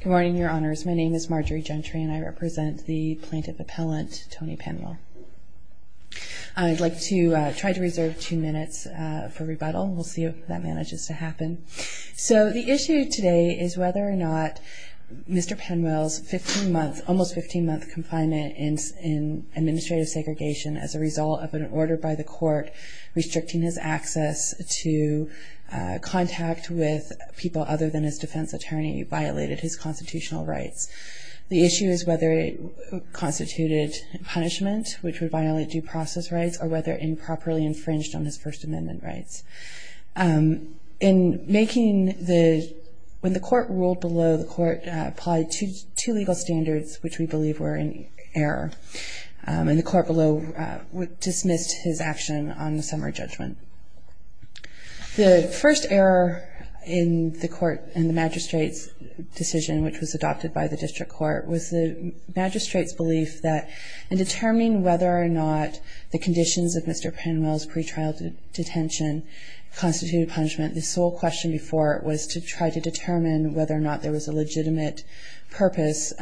Good morning, your honors. My name is Marjorie Gentry, and I represent the plaintiff appellant, Tony Penwell. I'd like to try to reserve two minutes for rebuttal. We'll see if that manages to happen. So the issue today is whether or not Mr. Penwell's 15-month, almost 15-month confinement in administrative segregation as a result of an order by the court restricting his access to contact with people other than his defense attorney violated his constitutional rights. The issue is whether it constituted punishment, which would violate due process rights, or whether improperly infringed on his First Amendment rights. In making the – when the court ruled below, the court applied two legal standards which we believe were in error, and the court below dismissed his action on the summary judgment. The first error in the court – in the magistrate's decision, which was adopted by the district court, was the magistrate's belief that in determining whether or not the conditions of Mr. Penwell's pretrial detention constituted punishment, the sole question before it was to try to determine whether or not there was a legitimate purpose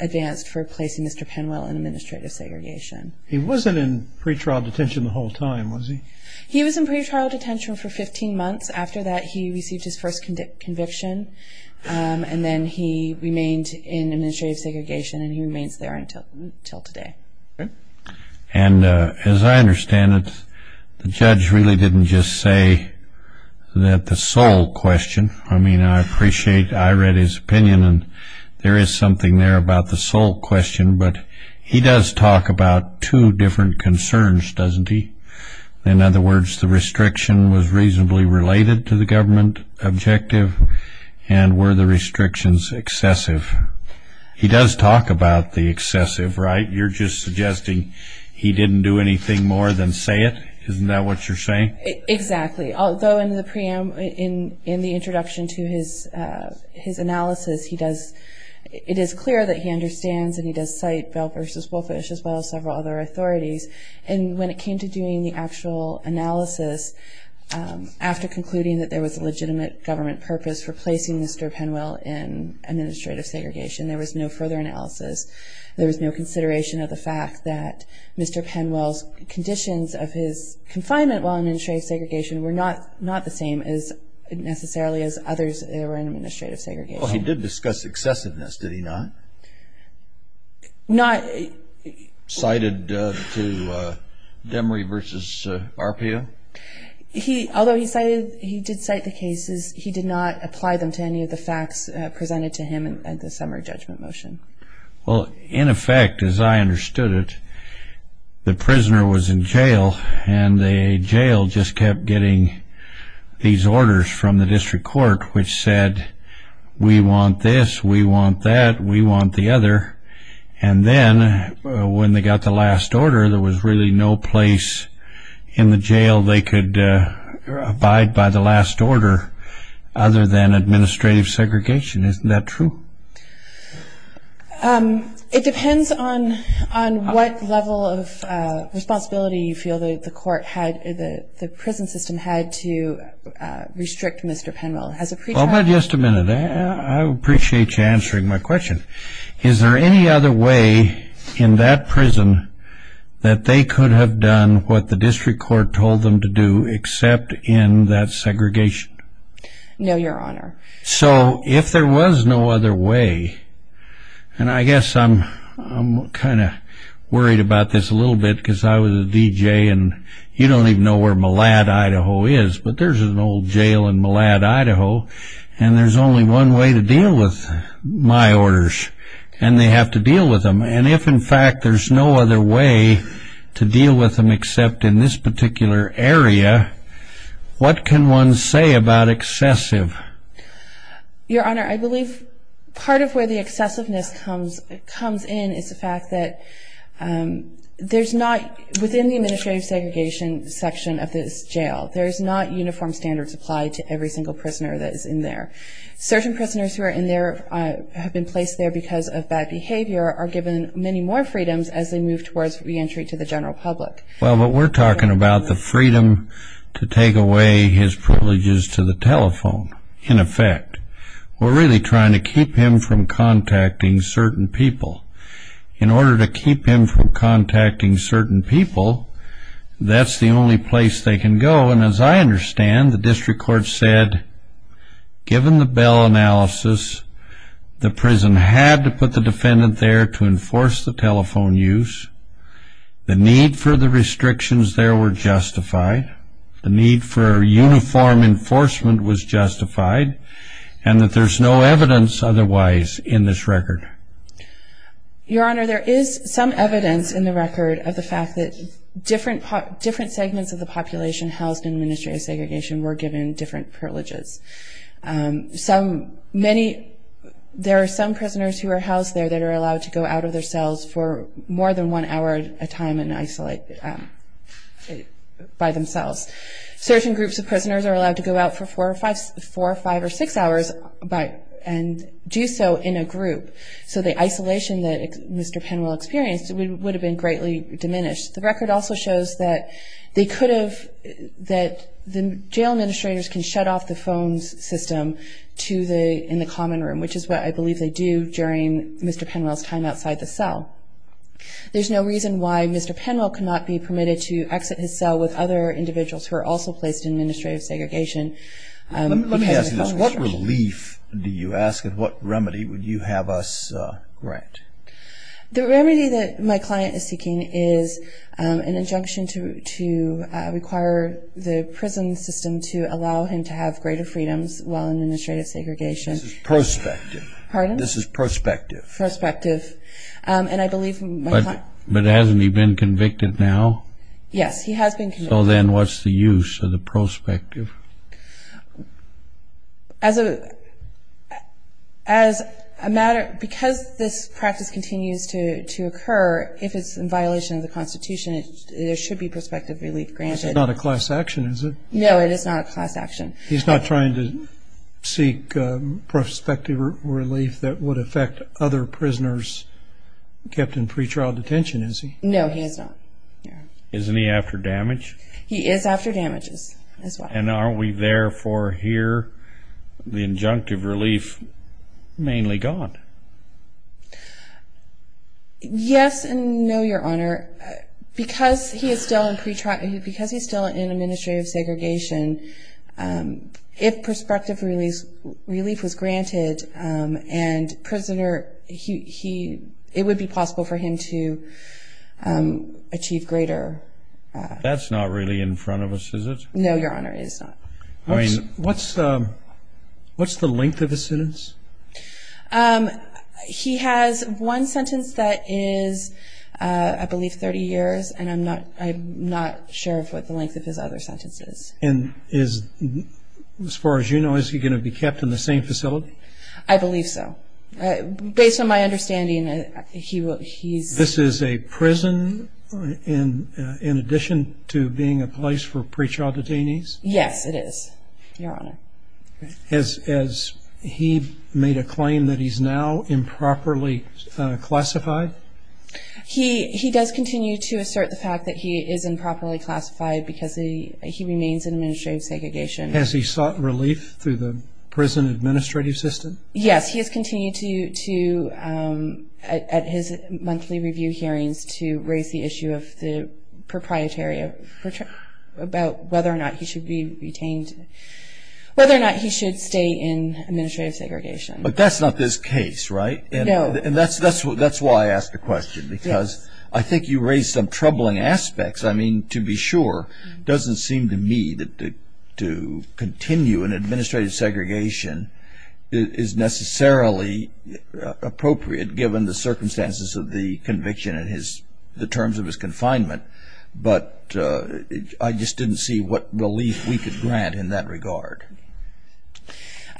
advanced for placing Mr. Penwell in administrative segregation. He wasn't in pretrial detention the whole time, was he? He was in pretrial detention for 15 months. After that, he received his first conviction, and then he remained in administrative segregation, and he remains there until today. And as I understand it, the judge really didn't just say that the sole question – I mean, I appreciate – I read his opinion, and there is something there about the sole question, but he does talk about two different concerns, doesn't he? In other words, the restriction was reasonably related to the government objective, and were the restrictions excessive? He does talk about the excessive, right? You're just suggesting he didn't do anything more than say it? Isn't that what you're saying? Exactly. Although in the introduction to his analysis, it is clear that he understands and he does cite Bell v. Wolfish as well as several other authorities, and when it came to doing the actual analysis, after concluding that there was a legitimate government purpose for placing Mr. Penwell in administrative segregation, there was no further analysis. There was no consideration of the fact that Mr. Penwell's conditions of his confinement while in administrative segregation were not the same necessarily as others that were in administrative segregation. Well, he did discuss excessiveness, did he not? Cited to Demery v. Arpaio? Although he did cite the cases, he did not apply them to any of the facts presented to him in the summary judgment motion. Well, in effect, as I understood it, the prisoner was in jail, and the jail just kept getting these orders from the district court which said, we want this, we want that, we want the other, and then when they got the last order, there was really no place in the jail they could abide by the last order other than administrative segregation. Isn't that true? It depends on what level of responsibility you feel the court had, the prison system had to restrict Mr. Penwell. Well, but just a minute. I appreciate you answering my question. Is there any other way in that prison that they could have done what the district court told them to do except in that segregation? No, Your Honor. So if there was no other way, and I guess I'm kind of worried about this a little bit because I was a DJ and you don't even know where Mallad, Idaho is, but there's an old jail in Mallad, Idaho, and there's only one way to deal with my orders, and they have to deal with them, and if, in fact, there's no other way to deal with them in that area, what can one say about excessive? Your Honor, I believe part of where the excessiveness comes in is the fact that there's not, within the administrative segregation section of this jail, there's not uniform standards applied to every single prisoner that is in there. Certain prisoners who are in there, have been placed there because of bad behavior, are given many more freedoms as they move towards reentry to the general public. Well, but we're talking about the freedom to take away his privileges to the telephone, in effect. We're really trying to keep him from contacting certain people. In order to keep him from contacting certain people, that's the only place they can go, and as I understand, the district court said, given the bail analysis, the prison had to put the defendant there to enforce the telephone use. The need for the restrictions there were justified. The need for uniform enforcement was justified, and that there's no evidence otherwise in this record. Your Honor, there is some evidence in the record of the fact that different segments of the population housed in administrative segregation were given different privileges. There are some prisoners who are housed there that are allowed to go out of their cells for more than one hour at a time and isolate by themselves. Certain groups of prisoners are allowed to go out for four or five or six hours and do so in a group. So the isolation that Mr. Penwell experienced would have been greatly diminished. The record also shows that they could have, that the jail administrators can shut off the phone system in the common room, which is what I believe they do during Mr. Penwell's time outside the cell. There's no reason why Mr. Penwell cannot be permitted to exit his cell with other individuals who are also placed in administrative segregation. Let me ask you this. What relief do you ask, and what remedy would you have us grant? The remedy that my client is seeking is an injunction to require the prison system to allow him to have greater freedoms while in administrative segregation. This is prospective. Pardon? This is prospective. Prospective. But hasn't he been convicted now? Yes, he has been convicted. So then what's the use of the prospective? As a matter, because this practice continues to occur, if it's in violation of the Constitution, there should be prospective relief granted. It's not a class action, is it? No, it is not a class action. He's not trying to seek prospective relief that would affect other prisoners kept in pretrial detention, is he? No, he is not. Isn't he after damage? He is after damages as well. And are we therefore here the injunctive relief mainly gone? Yes and no, Your Honor. Because he is still in administrative segregation, if prospective relief was granted and it would be possible for him to achieve greater. That's not really in front of us, is it? No, Your Honor, it is not. What's the length of the sentence? He has one sentence that is, I believe, 30 years, and I'm not sure of what the length of his other sentence is. And as far as you know, is he going to be kept in the same facility? I believe so. Based on my understanding, he's... This is a prison in addition to being a place for pretrial detainees? Yes, it is, Your Honor. Has he made a claim that he's now improperly classified? He does continue to assert the fact that he is improperly classified because he remains in administrative segregation. Has he sought relief through the prison administrative system? Yes, he has continued to, at his monthly review hearings, to raise the issue of the proprietary, about whether or not he should be retained. Whether or not he should stay in administrative segregation. But that's not this case, right? No. And that's why I asked the question, because I think you raised some troubling aspects. I mean, to be sure, it doesn't seem to me that to continue in administrative segregation is necessarily appropriate given the circumstances of the conviction and the terms of his confinement. But I just didn't see what relief we could grant in that regard.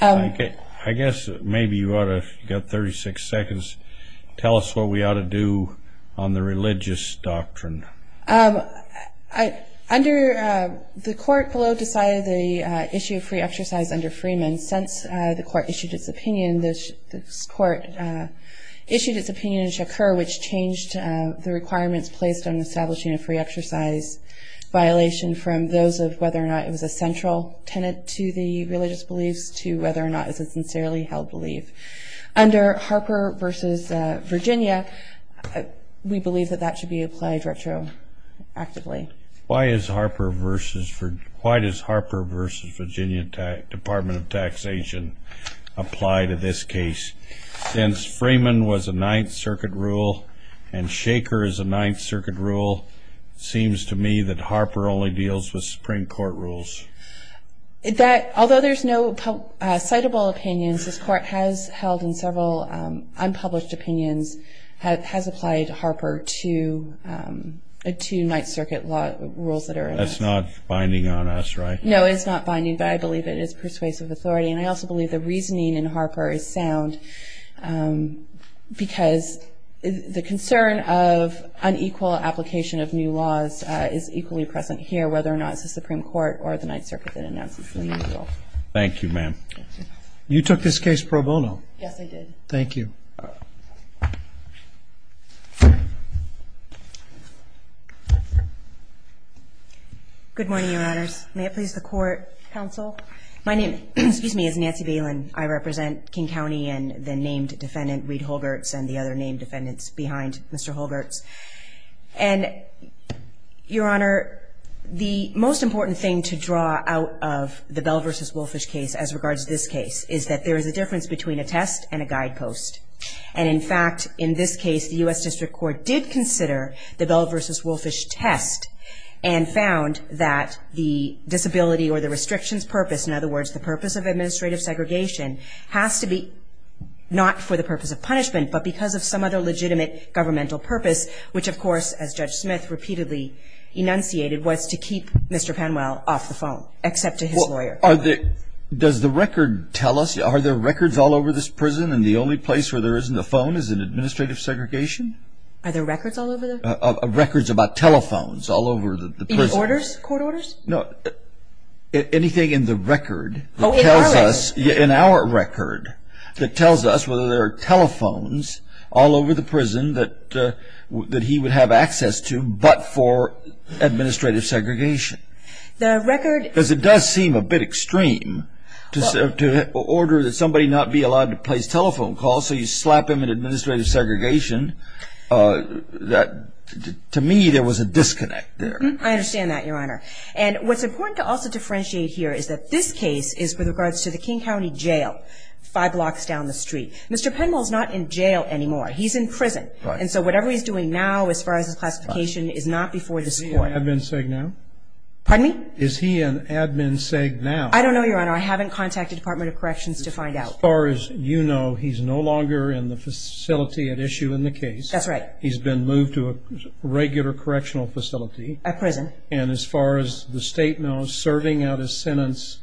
I guess maybe you ought to, if you've got 36 seconds, tell us what we ought to do on the religious doctrine. Under the court below decided the issue of free exercise under Freeman. Since the court issued its opinion, this court issued its opinion in Shakur, which changed the requirements placed on establishing a free exercise violation from those of whether or not it was a central tenet to the religious beliefs to whether or not it's a sincerely held belief. Under Harper v. Virginia, we believe that that should be applied retroactively. Why does Harper v. Virginia Department of Taxation apply to this case? Since Freeman was a Ninth Circuit rule and Shakur is a Ninth Circuit rule, it seems to me that Harper only deals with Supreme Court rules. Although there's no citable opinions, this court has held in several unpublished opinions, has applied Harper to Ninth Circuit rules that are in it. That's not binding on us, right? No, it's not binding, but I believe it is persuasive authority. And I also believe the reasoning in Harper is sound because the concern of unequal application of new laws is equally present here, whether or not it's the Supreme Court or the Ninth Circuit that announces the new rule. Thank you, ma'am. You took this case pro bono. Yes, I did. Thank you. Good morning, Your Honors. May it please the Court, Counsel? My name is Nancy Balin. I represent King County and the named defendant, Reed Holgerts, and the other named defendants behind Mr. Holgerts. And, Your Honor, the most important thing to draw out of the Bell v. Wolfish case as regards to this case is that there is a difference between a test and a guidepost. And, in fact, in this case, the U.S. District Court did consider the Bell v. Wolfish test and found that the disability or the restrictions purpose, in other words, the purpose of administrative segregation has to be not for the purpose of punishment but because of some other legitimate governmental purpose, which, of course, as Judge Smith repeatedly enunciated, was to keep Mr. Penwell off the phone except to his lawyer. Does the record tell us? Are there records all over this prison and the only place where there isn't a phone is in administrative segregation? Are there records all over the prison? Records about telephones all over the prison. Any orders, court orders? No. Anything in the record that tells us, in our record, that tells us whether there are telephones all over the prison that he would have access to but for administrative segregation. The record Because it does seem a bit extreme to order that somebody not be allowed to place telephone calls so you slap them in administrative segregation. To me, there was a disconnect there. I understand that, Your Honor. And what's important to also differentiate here is that this case is with regards to the King County Jail, five blocks down the street. Mr. Penwell is not in jail anymore. He's in prison. Right. And so whatever he's doing now, as far as his classification, is not before this court. Is he an admin seg now? Pardon me? Is he an admin seg now? I don't know, Your Honor. I haven't contacted the Department of Corrections to find out. As far as you know, he's no longer in the facility at issue in the case. That's right. He's been moved to a regular correctional facility. A prison. And as far as the State knows, serving out a sentence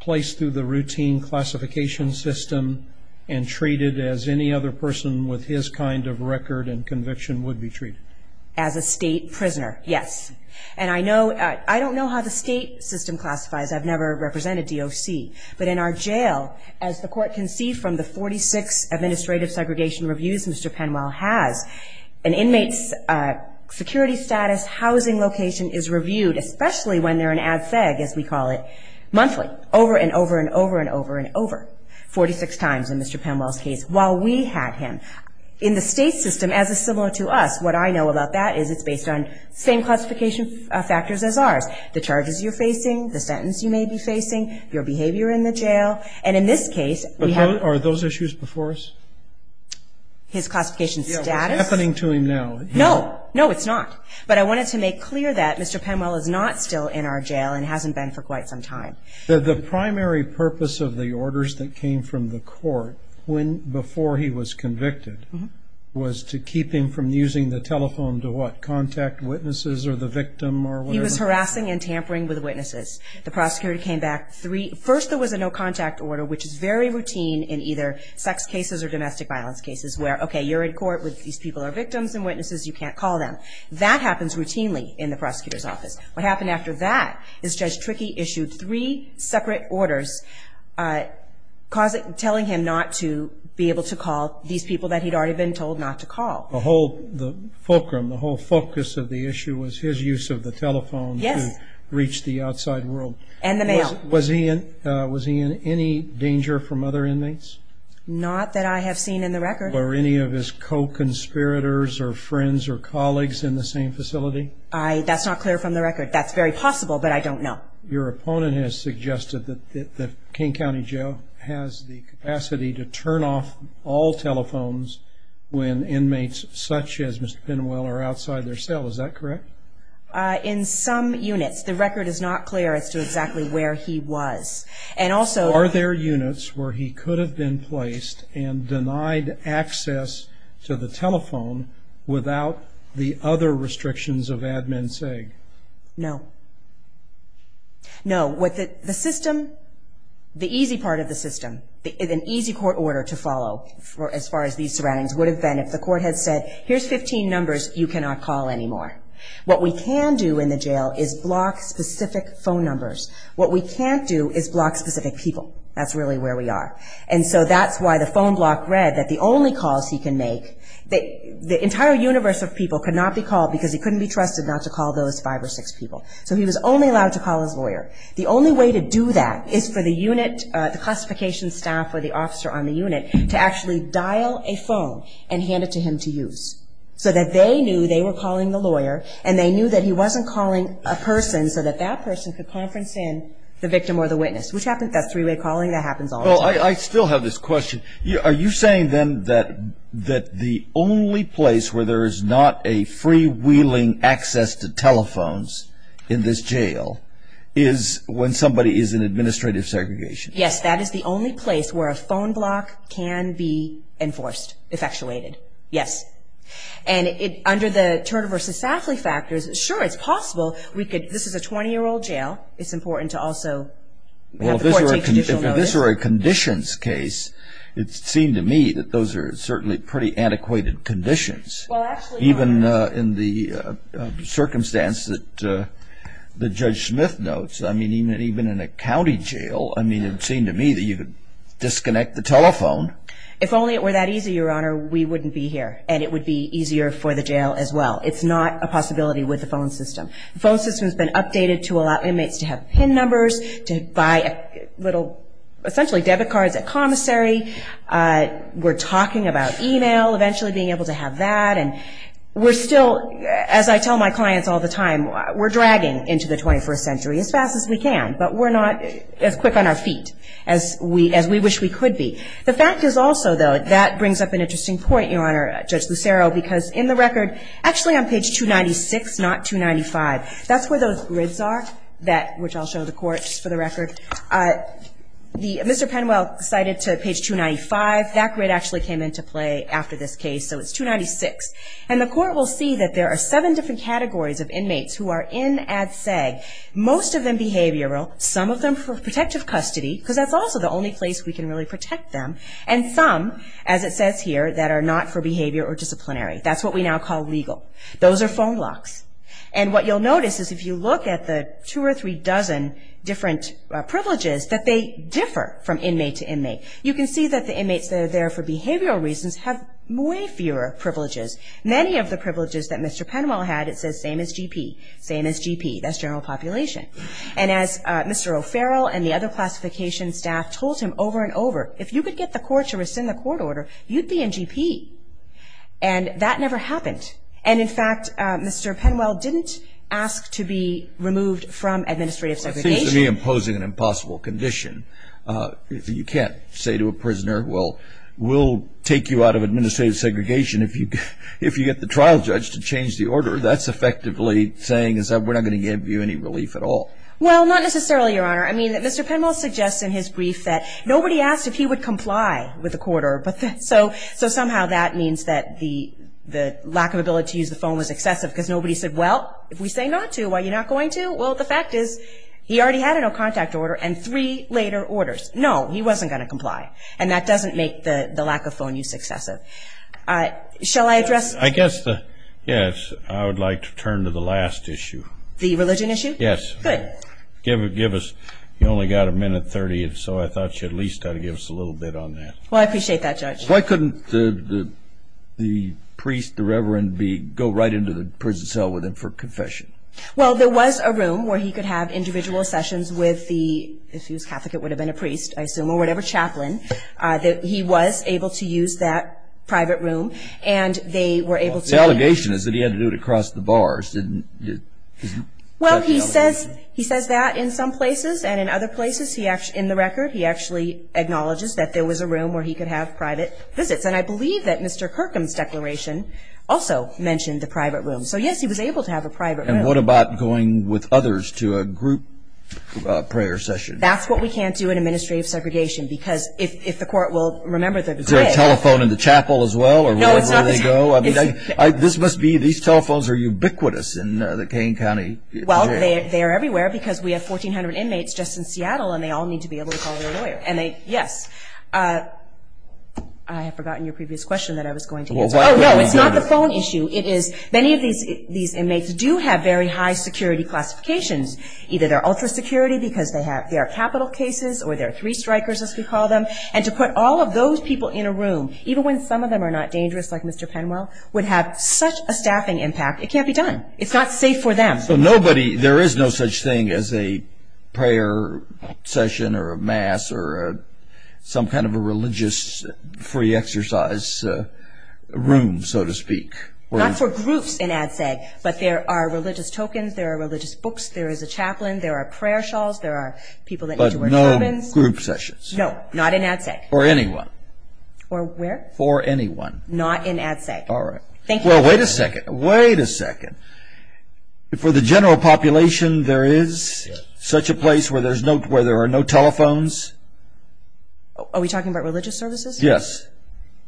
placed through the routine classification system and treated as any other person with his kind of record and conviction would be treated. As a State prisoner, yes. And I don't know how the State system classifies. I've never represented DOC. But in our jail, as the court can see from the 46 administrative segregation reviews Mr. Penwell has, an inmate's security status, housing location is reviewed, especially when they're an ad seg, as we call it, monthly, over and over and over and over and over, 46 times in Mr. Penwell's case, while we had him. In the State system, as is similar to us, what I know about that is it's based on same classification factors as ours. The charges you're facing, the sentence you may be facing, your behavior in the jail. And in this case, we have. Are those issues before us? His classification status? It's happening to him now. No. No, it's not. But I wanted to make clear that Mr. Penwell is not still in our jail and hasn't been for quite some time. The primary purpose of the orders that came from the court before he was convicted was to keep him from using the telephone to, what, contact witnesses or the victim or whatever? He was harassing and tampering with witnesses. The prosecutor came back. First, there was a no contact order, which is very routine in either sex cases or domestic violence cases, where, okay, you're in court, these people are victims and witnesses, you can't call them. That happens routinely in the prosecutor's office. What happened after that is Judge Trickey issued three separate orders telling him not to be able to call these people that he'd already been told not to call. The whole fulcrum, the whole focus of the issue was his use of the telephone to reach the outside world. And the mail. Was he in any danger from other inmates? Not that I have seen in the record. Were any of his co-conspirators or friends or colleagues in the same facility? That's not clear from the record. That's very possible, but I don't know. Your opponent has suggested that King County Jail has the capacity to turn off all telephones when inmates such as Mr. Penwell are outside their cell. Is that correct? In some units. The record is not clear as to exactly where he was. Are there units where he could have been placed and denied access to the telephone without the other restrictions of Admin SIG? No. No. The system, the easy part of the system, an easy court order to follow as far as these surroundings would have been if the court had said, here's 15 numbers you cannot call anymore. What we can do in the jail is block specific phone numbers. What we can't do is block specific people. That's really where we are. And so that's why the phone block read that the only calls he can make, the entire universe of people could not be called because he couldn't be trusted not to call those five or six people. So he was only allowed to call his lawyer. The only way to do that is for the unit, the classification staff or the officer on the unit, to actually dial a phone and hand it to him to use so that they knew they were calling the lawyer and they knew that he wasn't calling a person so that that person could conference in the victim or the witness, which happens, that's three-way calling, that happens all the time. I still have this question. Are you saying then that the only place where there is not a freewheeling access to telephones in this jail is when somebody is in administrative segregation? Yes, that is the only place where a phone block can be enforced, effectuated. Yes. And under the Turner v. Safley factors, sure, it's possible. This is a 20-year-old jail. It's important to also have the court take judicial notice. If this were a conditions case, it seemed to me that those are certainly pretty antiquated conditions. Well, actually, Your Honor. Even in the circumstance that Judge Smith notes, I mean, even in a county jail, I mean, it seemed to me that you could disconnect the telephone. If only it were that easy, Your Honor, we wouldn't be here, and it would be easier for the jail as well. It's not a possibility with the phone system. The phone system has been updated to allow inmates to have PIN numbers, to buy little essentially debit cards at commissary. We're talking about e-mail, eventually being able to have that. And we're still, as I tell my clients all the time, we're dragging into the 21st century as fast as we can, but we're not as quick on our feet as we wish we could be. The fact is also, though, that brings up an interesting point, Your Honor, Judge Lucero, because in the record, actually on page 296, not 295, that's where those grids are, which I'll show the Court, just for the record. Mr. Penwell cited to page 295. That grid actually came into play after this case, so it's 296. And the Court will see that there are seven different categories of inmates who are in ADSEG, most of them behavioral, some of them for protective custody, because that's also the only place we can really protect them, and some, as it says here, that are not for behavior or disciplinary. That's what we now call legal. Those are phone locks. And what you'll notice is if you look at the two or three dozen different privileges, that they differ from inmate to inmate. You can see that the inmates that are there for behavioral reasons have way fewer privileges. Many of the privileges that Mr. Penwell had, it says same as GP, same as GP. That's general population. And as Mr. O'Farrell and the other classification staff told him over and over, if you could get the court to rescind the court order, you'd be in GP. And that never happened. And, in fact, Mr. Penwell didn't ask to be removed from administrative segregation. It seems to me imposing an impossible condition. You can't say to a prisoner, well, we'll take you out of administrative segregation if you get the trial judge to change the order. That's effectively saying is that we're not going to give you any relief at all. Well, not necessarily, Your Honor. I mean, Mr. Penwell suggests in his brief that nobody asked if he would comply with the court order. So somehow that means that the lack of ability to use the phone was excessive because nobody said, well, if we say not to, why are you not going to? Well, the fact is he already had a no contact order and three later orders. No, he wasn't going to comply. And that doesn't make the lack of phone use excessive. Shall I address? I guess, yes, I would like to turn to the last issue. The religion issue? Yes. Good. Give us, you only got a minute 30 or so. I thought you at least had to give us a little bit on that. Well, I appreciate that, Judge. Why couldn't the priest, the reverend, go right into the prison cell with him for confession? Well, there was a room where he could have individual sessions with the, if he was Catholic it would have been a priest, I assume, or whatever chaplain. He was able to use that private room and they were able to. The allegation is that he had to do it across the bars. Well, he says that in some places and in other places. In the record, he actually acknowledges that there was a room where he could have private visits. And I believe that Mr. Kirkham's declaration also mentioned the private room. So, yes, he was able to have a private room. And what about going with others to a group prayer session? That's what we can't do in administrative segregation because if the court will remember that. Is there a telephone in the chapel as well or wherever they go? No, I mean, this must be, these telephones are ubiquitous in the Kane County jail. Well, they are everywhere because we have 1,400 inmates just in Seattle and they all need to be able to call their lawyer. And they, yes, I have forgotten your previous question that I was going to answer. Oh, no, it's not the phone issue. It is, many of these inmates do have very high security classifications. Either they're ultra security because they have their capital cases or they're three strikers as we call them. And to put all of those people in a room, even when some of them are not dangerous like Mr. Penwell, would have such a staffing impact. It can't be done. It's not safe for them. So nobody, there is no such thing as a prayer session or a mass or some kind of a religious free exercise room, so to speak. Not for groups in ADSEG, but there are religious tokens. There are religious books. There is a chaplain. There are prayer shawls. There are people that need to wear turbans. But no group sessions? No, not in ADSEG. For anyone? For where? For anyone. Not in ADSEG. All right. Well, wait a second. Wait a second. For the general population, there is such a place where there are no telephones? Are we talking about religious services? Yes.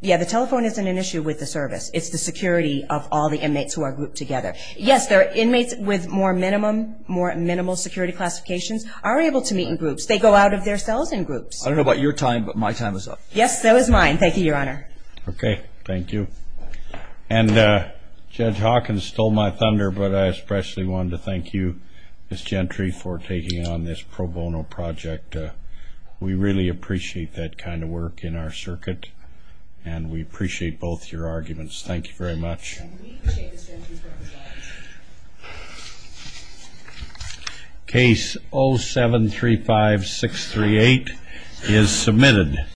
Yeah, the telephone isn't an issue with the service. It's the security of all the inmates who are grouped together. Yes, there are inmates with more minimal security classifications are able to meet in groups. They go out of their cells in groups. I don't know about your time, but my time is up. Yes, that was mine. Thank you, Your Honor. Okay. Thank you. And Judge Hawkins stole my thunder, but I especially wanted to thank you, Ms. Gentry, for taking on this pro bono project. We really appreciate that kind of work in our circuit, and we appreciate both your arguments. Thank you very much. Case 0735638 is submitted.